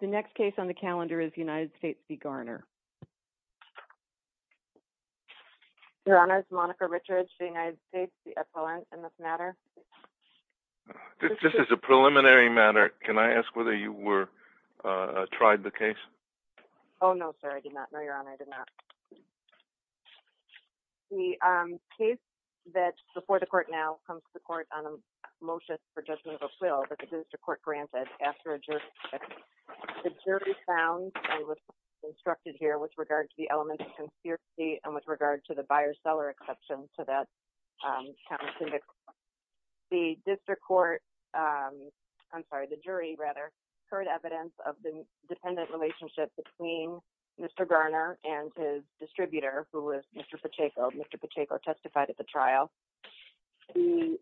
The next case on the calendar is United States v. Garner. Your Honor, it's Monica Richards, United States, the appellant in this matter. This is a preliminary matter. Can I ask whether you tried the case? Oh, no sir, I did not. No, Your Honor, I did not. The case that's before the court now comes to the court on a motion for judgment of a will that the district court granted after a jurisdiction. The jury found and was instructed here with regard to the element of conspiracy and with regard to the buyer-seller exception to that countenance. The district court, I'm sorry, the jury rather, heard evidence of the dependent relationship between Mr. Garner and his distributor, who was Mr. Pacheco. Mr. Pacheco testified at the trial. The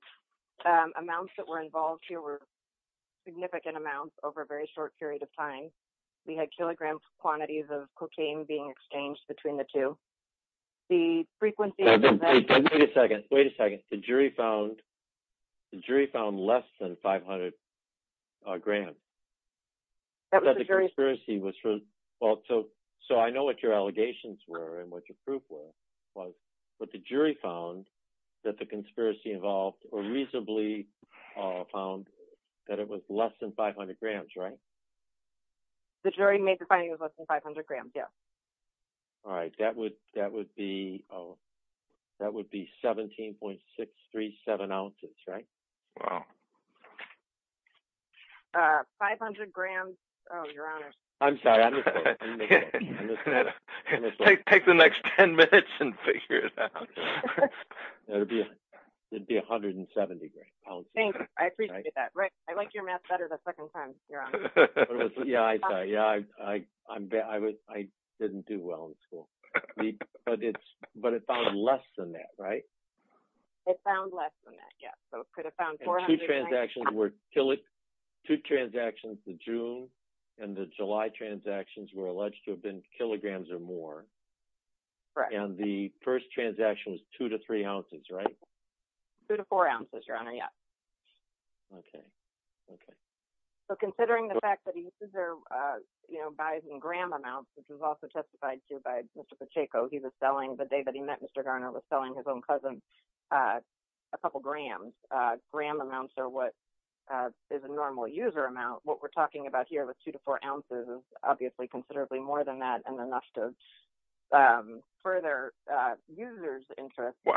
amounts that were involved here were significant amounts over a very short period of time. We had kilogram quantities of cocaine being exchanged between the two. The frequency... Wait a second. Wait a second. The jury found less than 500 grams. That was the jury's... So I know what your allegations were and what your proof was. But the jury found that the conspiracy involved, or reasonably found, that it was less than 500 grams, right? The jury made the finding that it was less than 500 grams, yes. All right. That would be 17.637 ounces, right? Wow. 500 grams... Oh, Your Honor. I'm sorry. I missed that. Take the next 10 minutes and figure it out. It would be 170 grams. Thanks. I appreciate that. Rick, I like your math better the second time, Your Honor. Yeah, I'm sorry. I didn't do well in school. But it found less than that, right? It found less than that, yes. So it could have found 400... The two transactions were... Two transactions, the June and the July transactions, were alleged to have been kilograms or more. And the first transaction was 2 to 3 ounces, right? 2 to 4 ounces, Your Honor, yes. Okay. Okay. So considering the fact that he buys in gram amounts, which was also testified to by Mr. Pacheco, the day that he met Mr. Garner, he was selling his own cousin a couple grams. So what is gram amounts or what is a normal user amount? What we're talking about here with 2 to 4 ounces is obviously considerably more than that and enough to further users' interest. Well,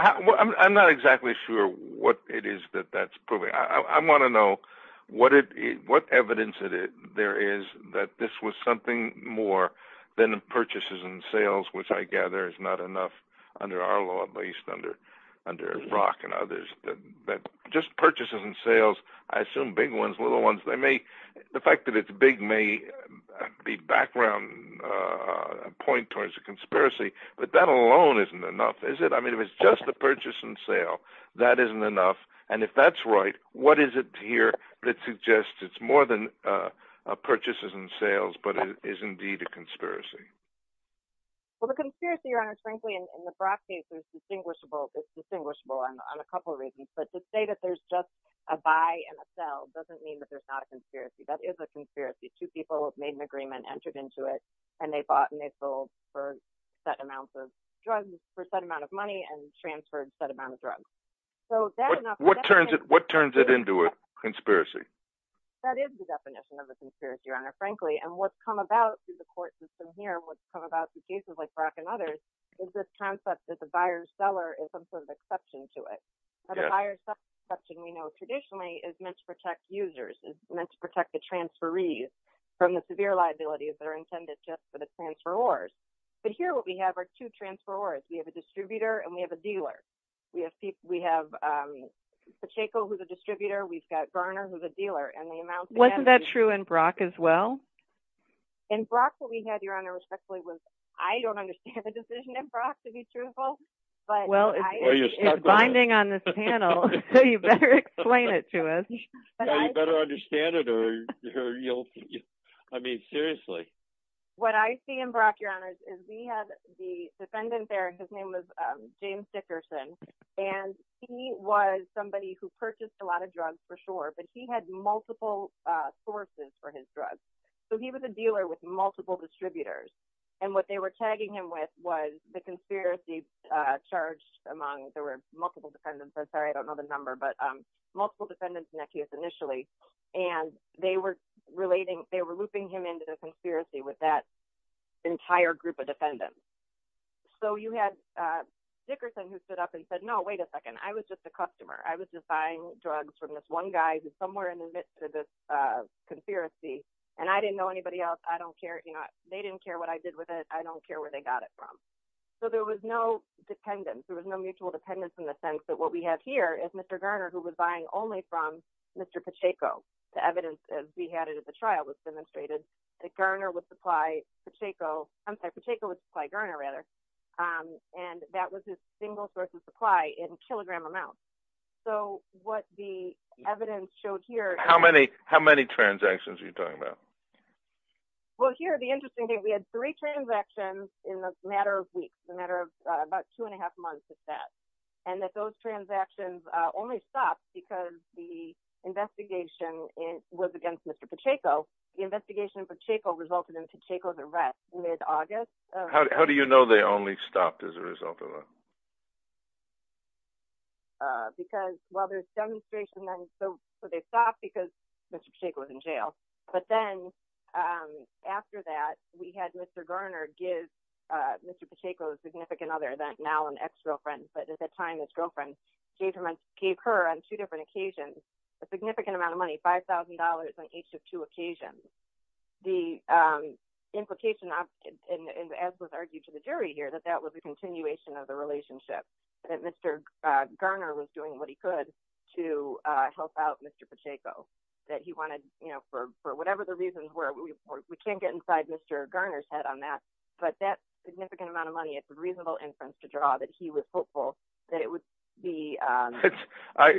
I'm not exactly sure what it is that that's proving. I want to know what evidence there is that this was something more than purchases and sales, which I gather is not enough under our law, at least under Brock and others, that just purchases and sales, I assume big ones, little ones, the fact that it's big may be background, a point towards a conspiracy, but that alone isn't enough, is it? I mean, if it's just the purchase and sale, that isn't enough. And if that's right, what is it here that suggests it's more than purchases and sales, but it is indeed a conspiracy? Well, the conspiracy, Your Honor, frankly, in the Brock case is distinguishable. It's distinguishable on a couple of reasons, but to say that there's just a buy and a sell doesn't mean that there's not a conspiracy. That is a conspiracy. Two people made an agreement, entered into it, and they bought and they sold for set amounts of drugs for a set amount of money and transferred a set amount of drugs. What turns it into a conspiracy? That is the definition of a conspiracy, Your Honor, frankly, and what's come about through the court system here and what's come about through cases like Brock and others is this concept that the buyer-seller is some sort of exception to it. The buyer-seller exception we know traditionally is meant to protect users, is meant to protect the transferees from the severe liabilities that are intended just for the transferors. But here what we have are two transferors. We have a distributor and we have a dealer. We have Pacheco, who's a distributor. We've got Garner, who's a dealer. Wasn't that true in Brock as well? In Brock, what we had, Your Honor, respectfully, was I don't understand the decision in Brock, to be truthful. Well, it's binding on this panel, so you better explain it to us. You better understand it or you'll, I mean, seriously. What I see in Brock, Your Honor, is we have the defendant there, his name was James Dickerson, and he was somebody who purchased a lot of drugs for sure, but he had multiple sources for his drugs. So he was a dealer with multiple distributors, and what they were tagging him with was the conspiracy charged among, there were multiple defendants, I'm sorry, I don't know the number, but multiple defendants in that case initially, and they were looping him into the conspiracy with that entire group of defendants. So you had Dickerson who stood up and said, no, wait a second, I was just a customer. I was just buying drugs from this one guy who's somewhere in the midst of this conspiracy, and I didn't know anybody else. They didn't care what I did with it. I don't care where they got it from. So there was no dependence. There was no mutual dependence in the sense that what we have here is Mr. Garner who was buying only from Mr. Pacheco. The evidence, as we had it at the trial, was demonstrated that Garner would supply Pacheco, I'm sorry, Pacheco would supply Garner rather, and that was his single source of supply in kilogram amounts. So what the evidence showed here... How many transactions are you talking about? Well, here, the interesting thing, is that Garner would supply Pacheco with transactions in a matter of weeks, a matter of about two and a half months at that, and that those transactions only stopped because the investigation was against Mr. Pacheco. The investigation for Pacheco resulted in Pacheco's arrest mid-August. How do you know they only stopped as a result of that? Because, well, there's demonstration, so they stopped because Mr. Pacheco was in jail. But then, after that, we had Mr. Garner and his, Mr. Pacheco's significant other, now an ex-girlfriend, but at that time, his girlfriend, gave her on two different occasions a significant amount of money, $5,000 on each of two occasions. The implication, as was argued to the jury here, that that was a continuation of the relationship, that Mr. Garner was doing what he could to help out Mr. Pacheco, that he wanted, for whatever the reasons were, we can't get inside Mr. Garner's head on that, but that significant amount of money is a reasonable inference to draw that he was hopeful that it would be...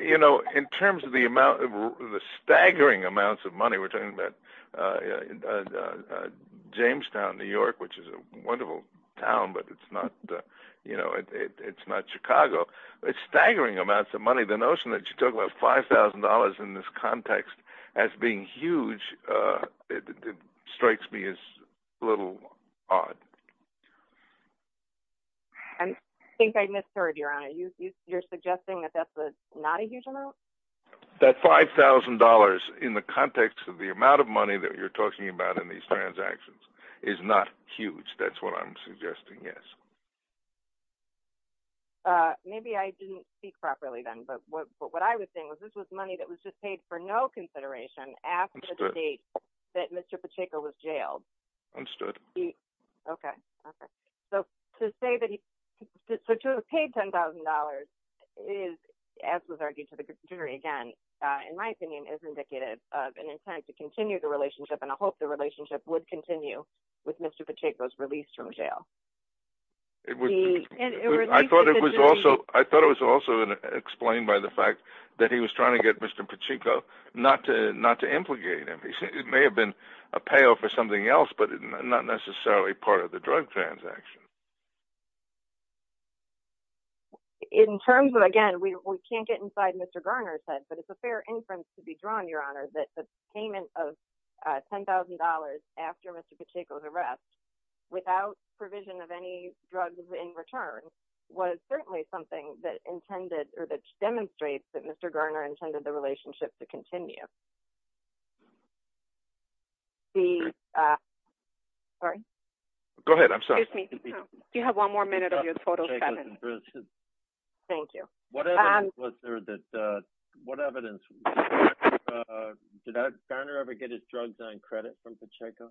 You know, in terms of the staggering amounts of money, we're talking about Jamestown, New York, which is a wonderful town, but it's not Chicago, it's staggering amounts of money. The notion that you're talking about $5,000 in this context as being huge, it strikes me as a little odd. I think I misheard, Your Honor. You're suggesting that that's not a huge amount? That $5,000 in the context of the amount of money that you're talking about in these transactions is not huge, that's what I'm suggesting, yes. Maybe I didn't speak properly then, but what I was saying was this was money that was just paid for no consideration after the date that Mr. Pacheco was jailed. Understood. Okay. So to have paid $10,000 is, as was argued to the jury again, in my opinion, is indicative of an intent to continue the relationship, and I hope the relationship would continue with Mr. Pacheco's release from jail. I thought it was also explained by the fact that he was trying to get Mr. Pacheco not to implicate him. It may have been a payoff for something else, but not necessarily part of the drug transaction. In terms of, again, we can't get inside Mr. Garner's head, but it's a fair inference to be drawn, Your Honor, that the payment of $10,000 after Mr. Pacheco's arrest without provision of any drugs in return was certainly something that demonstrated that Mr. Garner intended the relationship to continue. The... Sorry? Go ahead. I'm sorry. Excuse me. Do you have one more minute of your total seven? Thank you. What evidence was there that... What evidence... Did Garner ever get his drugs on credit from Pacheco?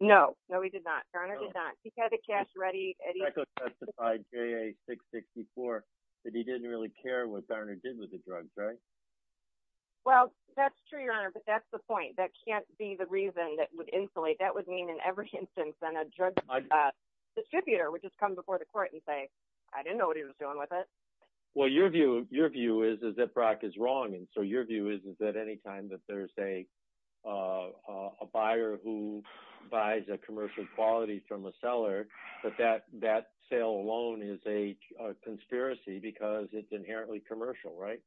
No. No, he did not. Garner did not. He had the cash ready... Pacheco testified, JA-664, that he didn't really care what Garner did with the drugs, right? Well, that's true, Your Honor, but that's the point. That can't be the reason that would insulate. That would mean in every instance that a drug distributor would just come before the court and say, I didn't know what he was doing with it. Well, your view is that Brock is wrong, and so your view is that any time that there's a... a buyer who buys a commercial quality from a seller, that that sale alone is a conspiracy because it's inherently commercial, right?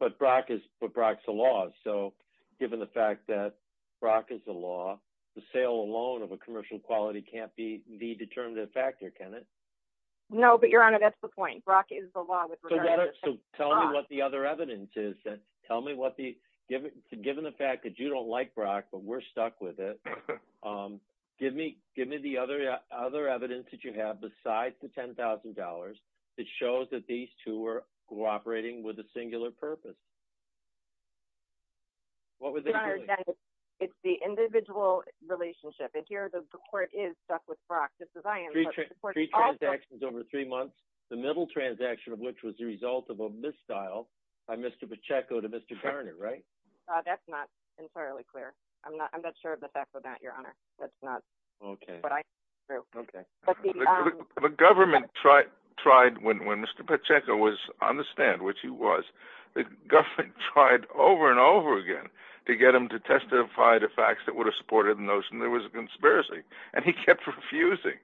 But Brock's the law, so given the fact that Brock is the law, the sale alone of a commercial quality can't be the determinative factor, can it? No, but Your Honor, that's the point. Brock is the law with regard to... So tell me what the other evidence is. Tell me what the... Given the fact that you don't like Brock, but we're stuck with it, give me the other evidence that you have besides the $10,000 that shows that these two were cooperating with a singular purpose. What was the... Your Honor, it's the individual relationship, and here the court is stuck with Brock, just as I am, but the court is also... Three transactions over three months, the middle transaction of which was the result of a misdial by Mr. Pacheco to Mr. Garner, right? That's not entirely clear. I'm not sure of the fact of that, Your Honor. That's not what I... Okay. The government tried, when Mr. Pacheco was on the stand, which he was, the government tried over and over again to get him to testify to facts that would have supported the notion there was a conspiracy, and he kept refusing.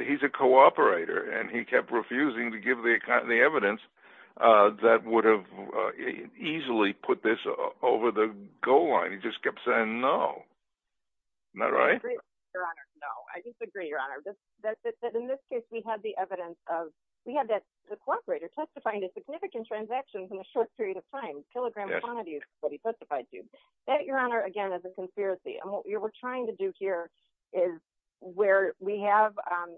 He's a cooperator, and he kept refusing to give the evidence that would have easily put this over the goal line. He just kept saying no. Isn't that right? No, I disagree, Your Honor. In this case, we had the evidence of... We had the cooperator testifying to significant transactions in a short period of time, kilogram quantities, what he testified to. That, Your Honor, again, is a conspiracy, and what we're trying to do here is where we have...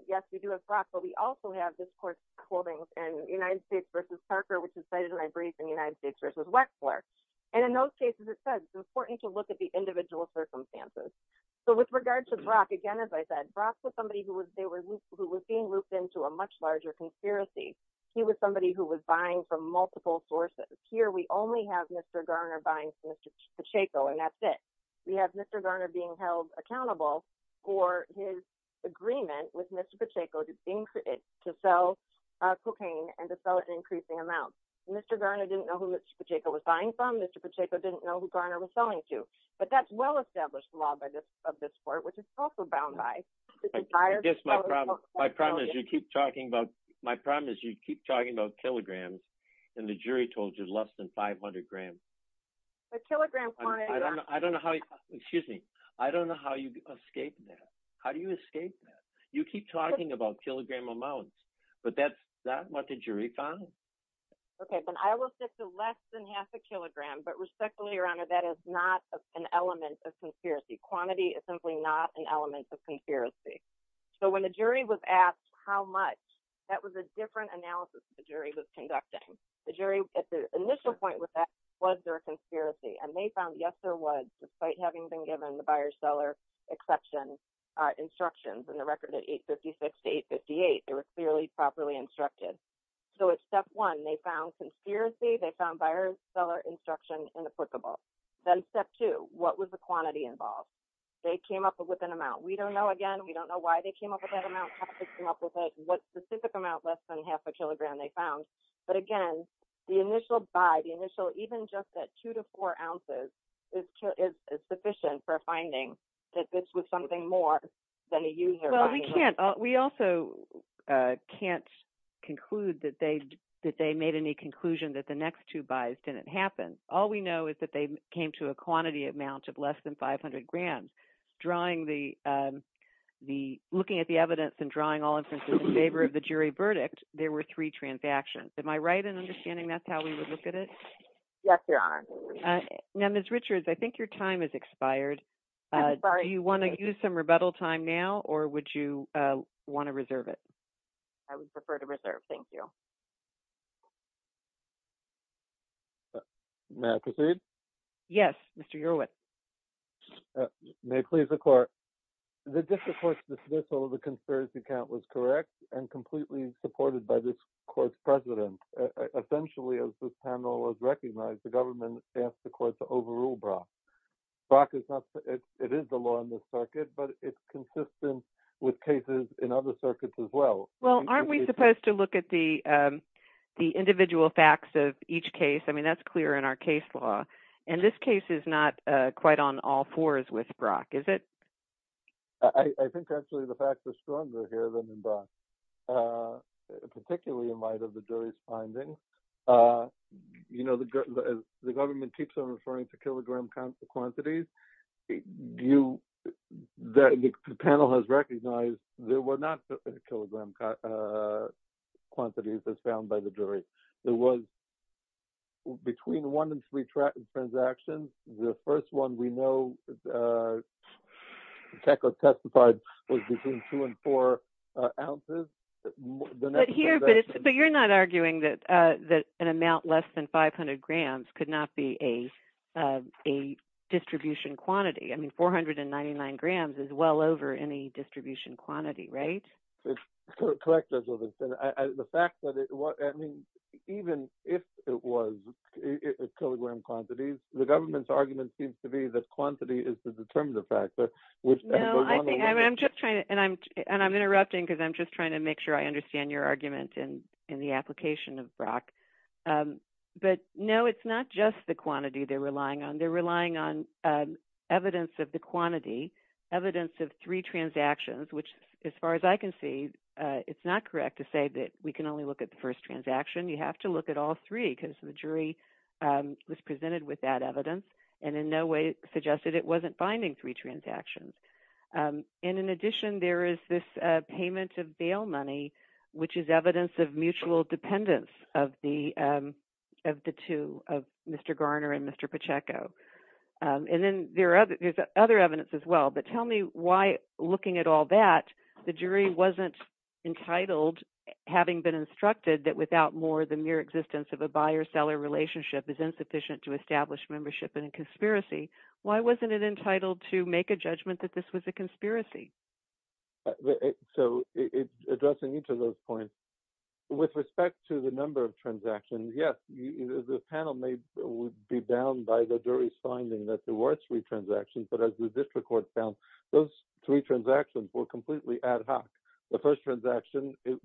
Yes, we do have Brock, but we also have this court's holdings in United States v. Parker, which is cited in my brief when we look at the individual circumstances. So with regard to Brock, again, as I said, Brock was somebody who was being looped into a much larger conspiracy. He was somebody who was buying from multiple sources. Here, we only have Mr. Garner buying from Mr. Pacheco, and that's it. We have Mr. Garner being held accountable for his agreement with Mr. Pacheco to sell cocaine and to sell it in increasing amounts. Mr. Garner didn't know who Mr. Pacheco was buying from. Mr. Pacheco didn't know who Garner was selling to. But that's well-established law of this court, which is also bound by the desire... I guess my problem... My problem is you keep talking about... My problem is you keep talking about kilograms, and the jury told you less than 500 grams. The kilogram quantity... I don't know how you... Excuse me. I don't know how you escape that. How do you escape that? You keep talking about kilogram amounts, but that's not what the jury found. But respectfully, Your Honor, that is not an element of conspiracy. Quantity is simply not an element of conspiracy. So when the jury was asked how much, that was a different analysis that the jury was conducting. The jury, at the initial point with that, was there a conspiracy? And they found yes, there was, despite having been given the buyer-seller exception instructions in the record at 856 to 858. They were clearly properly instructed. So at step one, they found conspiracy. They found buyer-seller instruction inapplicable. Then step two, what was the quantity involved? They came up with an amount. We don't know, again, we don't know why they came up with that amount, how they came up with it, what specific amount less than half a kilogram they found. But again, the initial buy, the initial even just that two to four ounces is sufficient for finding that this was something more than a user... Well, we can't... We also can't conclude that they made any conclusion that the next two buys didn't happen. All we know is that they came to a quantity amount of less than 500 grams. Drawing the... Looking at the evidence and drawing all inferences in favor of the jury verdict, there were three transactions. Am I right in understanding that's how we would look at it? Yes, Your Honor. Now, Ms. Richards, I think your time has expired. Do you want to use some rebuttal time now or would you want to reserve it? May I proceed? Yes, Mr. Irwin. May it please the court. The dismissal of the conspiracy count was correct and completely supported by this court's president. Essentially, as this panel has recognized, the government asked the court to overrule Brock. Brock is not... It is the law in this circuit, but it's consistent with cases in other circuits as well. Well, aren't we supposed to look at the individual facts of each case? I mean, that's clear in our case law. And this case is not quite on all fours with Brock, is it? I think actually the facts are stronger here than in Brock, particularly in light of the jury's findings. You know, the government keeps on referring to kilogram quantities. Do you... The panel has recognized there were not kilogram quantities as found by the jury. There was... Between one and three transactions, the first one we know TECA testified was between two and four ounces. But here... But you're not arguing that an amount less than 500 grams could not be a distribution quantity. I mean, 499 grams is well over any distribution quantity, right? Correct, Judge Wilson. The fact that it was... I mean, even if it was kilogram quantities, the government's argument seems to be that quantity is the determinative factor. No, I think... And I'm interrupting because I'm just trying to make sure I understand your argument in the application of Brock. But no, it's not just the quantity they're relying on. They're relying on evidence of the quantity, evidence of three transactions, which, as far as I can see, it's not correct to say that we can only look at the first transaction. You have to look at all three because the jury was presented with that evidence and in no way suggested it wasn't finding three transactions. And in addition, there is this payment of bail money, which is evidence of mutual dependence of the two, of Mr. Garner and Mr. Pacheco. But tell me why, looking at all that, the jury wasn't entitled, having been instructed that without more than mere existence of a buyer-seller relationship is insufficient to establish membership in a conspiracy. Why wasn't it entitled to make a judgment that this was a conspiracy? So addressing each of those points, with respect to the number of transactions, yes, the panel may be bound by the jury's finding that there were three transactions, those three transactions were completely ad hoc. The first transaction, it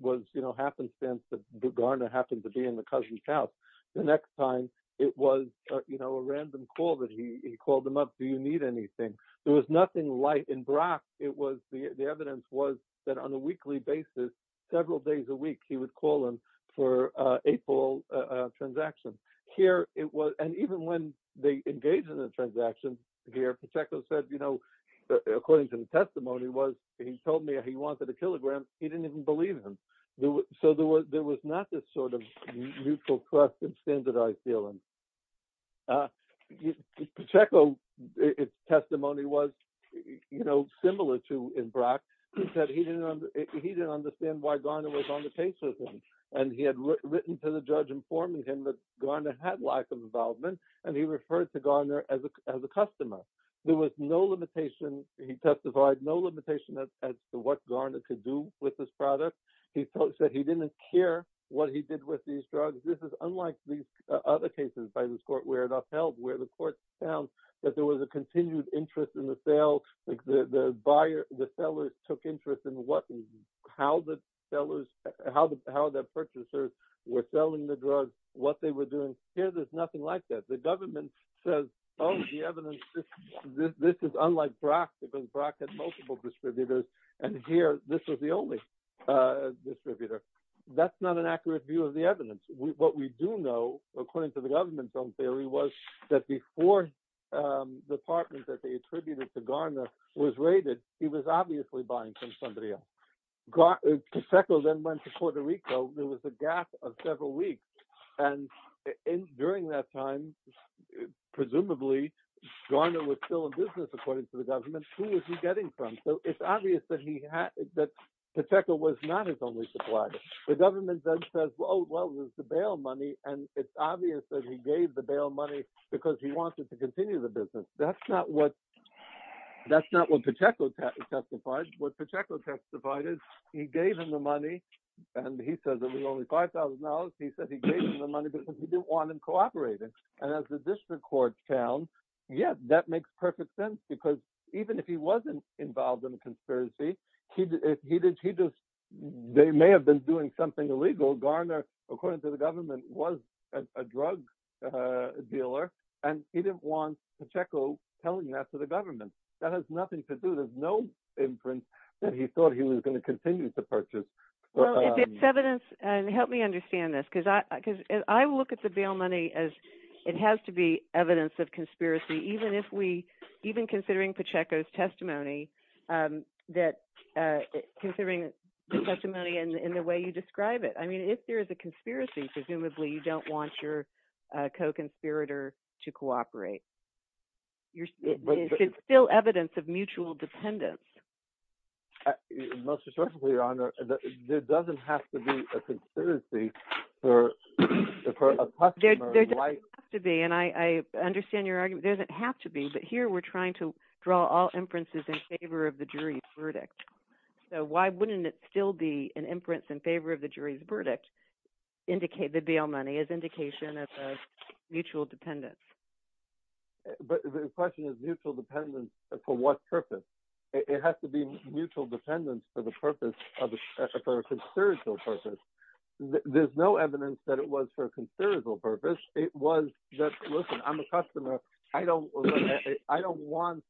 happened since Garner happened to be in the Cousin's house. The next time, it was a random call that he called him up, do you need anything? There was nothing light in Brock. The evidence was that on a weekly basis, several days a week, he would call him for April transactions. And even when they engaged in the transaction here, according to the testimony, he told me he wanted a kilogram, he didn't even believe him. So there was not this sort of mutual trust and standardized feeling. Pacheco, his testimony was similar to in Brock, he said he didn't understand why Garner was on the case with him. informing him that Garner had lack of involvement and he referred to Garner as a customer. There was no limitation, he testified no limitation as to what Garner could do with this product. He said he didn't care what he did with these drugs. This is unlike these other cases by this court where it upheld, where the court found that there was a continued interest in the sale, the seller took interest in how the sellers, how the purchasers were selling the drugs, what they were doing. Here there's nothing like that. The government says, oh the evidence, this is unlike Brock because Brock had multiple distributors and here this was the only distributor. That's not an accurate view of the evidence. What we do know, according to the government film theory, was that before the partner that they attributed to Garner was raided, he was obviously buying from somebody else. Pacheco then went to Puerto Rico, there was a gap of several weeks and during that time, presumably, Garner was still in business according to the government. Who was he getting from? It's obvious that he had, that Pacheco was not his only supplier. The government then says, well it was the bail money and it's obvious that he gave the bail money because he wanted to continue the business. That's not what, that's not what Pacheco testified. What Pacheco testified is he gave him the money and he says it was only $5,000. He said he gave him the money because he didn't want him cooperating. And as the district court found, yeah, that makes perfect sense because even if he wasn't involved in a conspiracy, he just, they may have been doing something illegal. Garner, according to the government, was a drug dealer and he didn't want Pacheco telling that to the government. That has nothing to do, there's no inference that he thought he was going to continue to purchase. Well, if it's evidence, help me understand this because I look at the bail money as it has to be evidence of conspiracy even if we, even considering Pacheco's testimony that, considering the testimony and the way you describe it. I mean, if there is a conspiracy, presumably you don't want your co-conspirator to cooperate. Is it still evidence of mutual dependence? Most certainly, Your Honor. There doesn't have to be a conspiracy for a customer. There doesn't have to be and I understand your argument. There doesn't have to be but here we're trying to draw all inferences in favor of the jury's verdict. So why wouldn't it still be an inference in favor of the jury's verdict? The bail money is indication of a mutual dependence. mutual dependence for what purpose? It has to be mutual dependence for the purpose of, for a conspiratorial purpose. There's no evidence that it was for a conspiratorial purpose. It was that, listen, I'm a customer. I don't, I don't want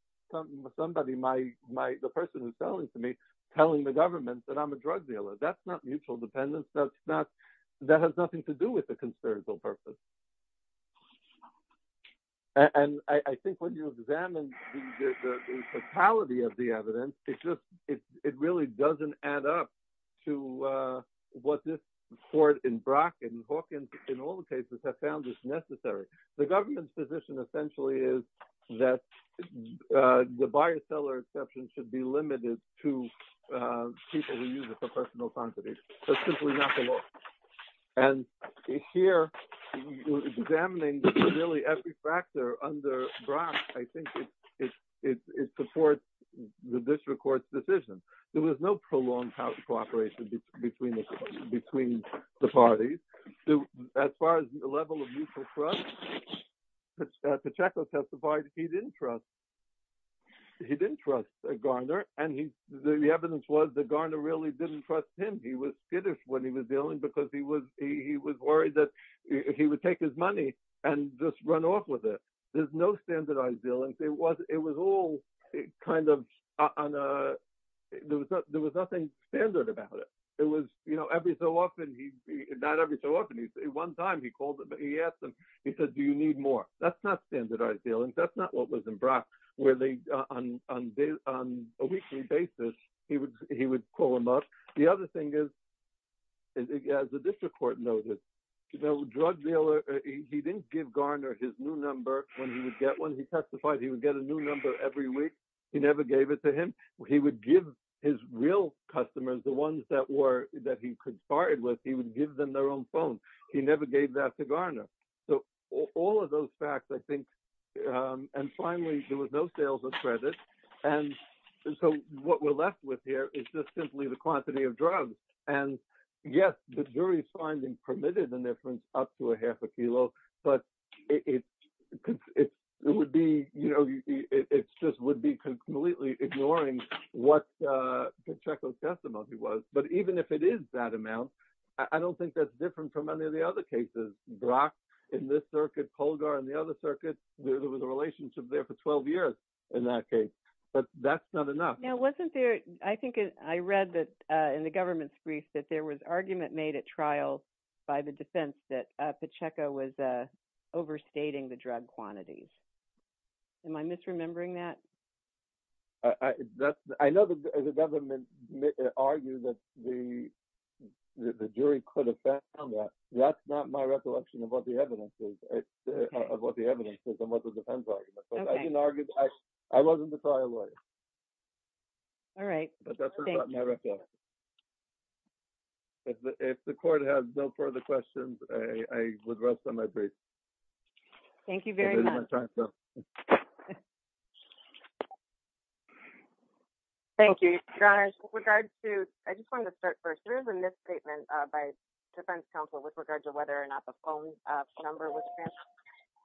somebody, the person who's telling to me, telling the government that I'm a drug dealer. That's not mutual dependence. That's not, that has nothing to do with the conspiratorial purpose. And I think when you examine the totality of the evidence, it just, it really doesn't add up to what's this court in Brock and Hawkins in all the cases have found this necessary. The government's position essentially is that the buyer-seller exception should be limited to people who use it for personal quantity, but simply not the law. And here, examining really every factor under Brock, I think it, it, it supports the district court's decision. There was no prolonged cooperation between the, between the parties. As far as the level of mutual trust, Pacheco testified he didn't trust, he didn't trust Garner and he, the evidence was that Garner really didn't trust him. He was when he was dealing because he was, he was worried that he would take his money and just run off with it. There's no standardized dealings. It was, it was all kind of on a, there was not, there was nothing standard about it. It was, you know, every so often he, not every so often, he, one time he called him, he asked him, he said, do you need more? That's not standardized dealings. That's not what was in Brock where they, on, on, on a weekly basis, he would, he would call him up. The other thing is, as the district court noted, you know, drug dealer, he didn't give Garner his new number when he would get one. He testified he would get a new number every week. He never gave it to him. He would give his real customers the ones that were, that he could bargain with. He would give them their own phone. He never gave that to Garner. So all of those facts, I think, and finally, there was no sales or credit. And so what we're left with here is just simply the quantity of drugs. And yes, the jury's finding permitted the difference up to a half a kilo, but it, it, it would be, you know, it just would be completely ignoring what, uh, Pacheco's testimony was. But even if it is that amount, I don't think that's different from any of the other cases. Brock, in this circuit, Polgar in the other circuit, there was a relationship there for 12 years in that case. But that's not enough. Now, wasn't there, I think, I read that, uh, in the government's brief that there was argument made at trial by the defense that, uh, overstating the drug quantities. Am I misremembering that? I, that's, I know that the government argued that the, the jury could have found that. That's not my recollection of what the evidence is, of what the evidence is and what the defense argument. But I didn't argue, I, I wasn't the trial lawyer. All right. But that's not my recollection. If the, if the court has no further questions, I, I would rest on my brace. Thank you very much. Thank you, guys. With regards to, I just wanted to start first. There is a misstatement by defense counsel with regards to whether or not the phone number was granted.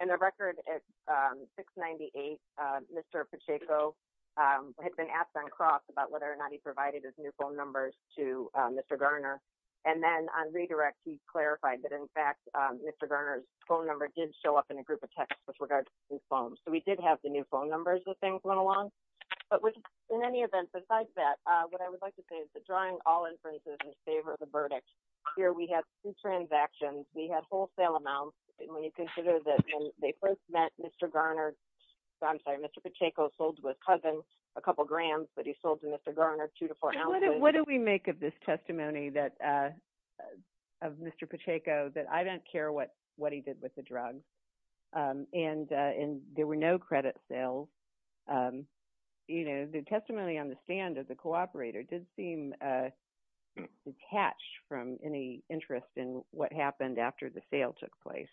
And the record at, um, 698, uh, Mr. Pacheco, um, had been asked on cross about whether or not he provided his new phone numbers to, um, Mr. Garner. And then on redirect, he clarified that in fact, um, Mr. Garner's phone number did show up in a group of texts with regards to his phone. So we did have the new phone numbers that things went along. But with, in any event, besides that, uh, what I would like to say is that drawing all inferences in favor of the verdict, here we have two transactions. We have wholesale amounts. And when you consider that when they first met Mr. Garner, I'm sorry, Mr. Pacheco sold with cousins a couple grams, but he sold to Mr. Garner two to four ounces. What do we make of this testimony that, uh, of Mr. Pacheco, that I don't care what he did with the drugs. And there were no credit sales. You know, the testimony on the stand of the cooperator did seem detached from any interest in what happened after the sale took place.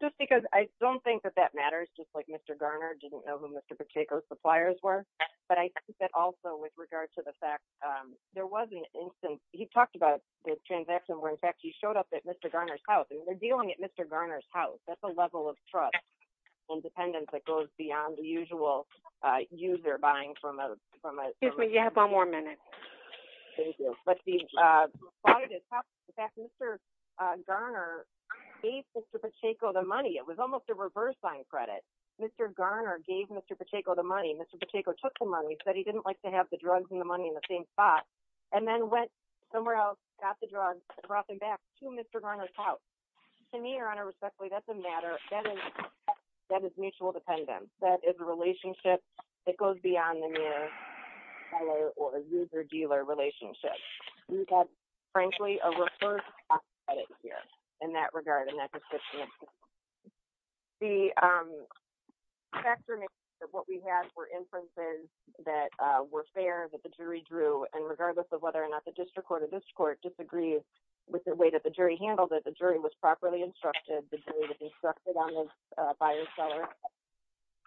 Just because I don't think that matters just like Mr. Garner did. He did any we've talked about the transaction where in fact you showed up at Mr. Garner's house. That's a level of trust and dependence that is mutual dependence. That is a relationship that goes beyond the mere seller or user-dealer relationship. We've had, frankly, a referred cost credit here in that regard, in that description. The, um, factor that what we had were inferences that, uh, were fair that the jury drew and regardless of whether or not the district court or this court disagreed with the way that handled it, the jury was properly instructed to be instructed on this buyer-seller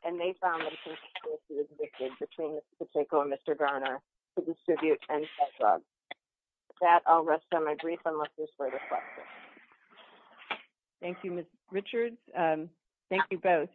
and they found between Mr. Pacheco and Mr. Garner to distribute fair credit. And that's all. With that, I'll rest on my brief unless there's further questions. Thank you, Ms. Richards. Thank you both.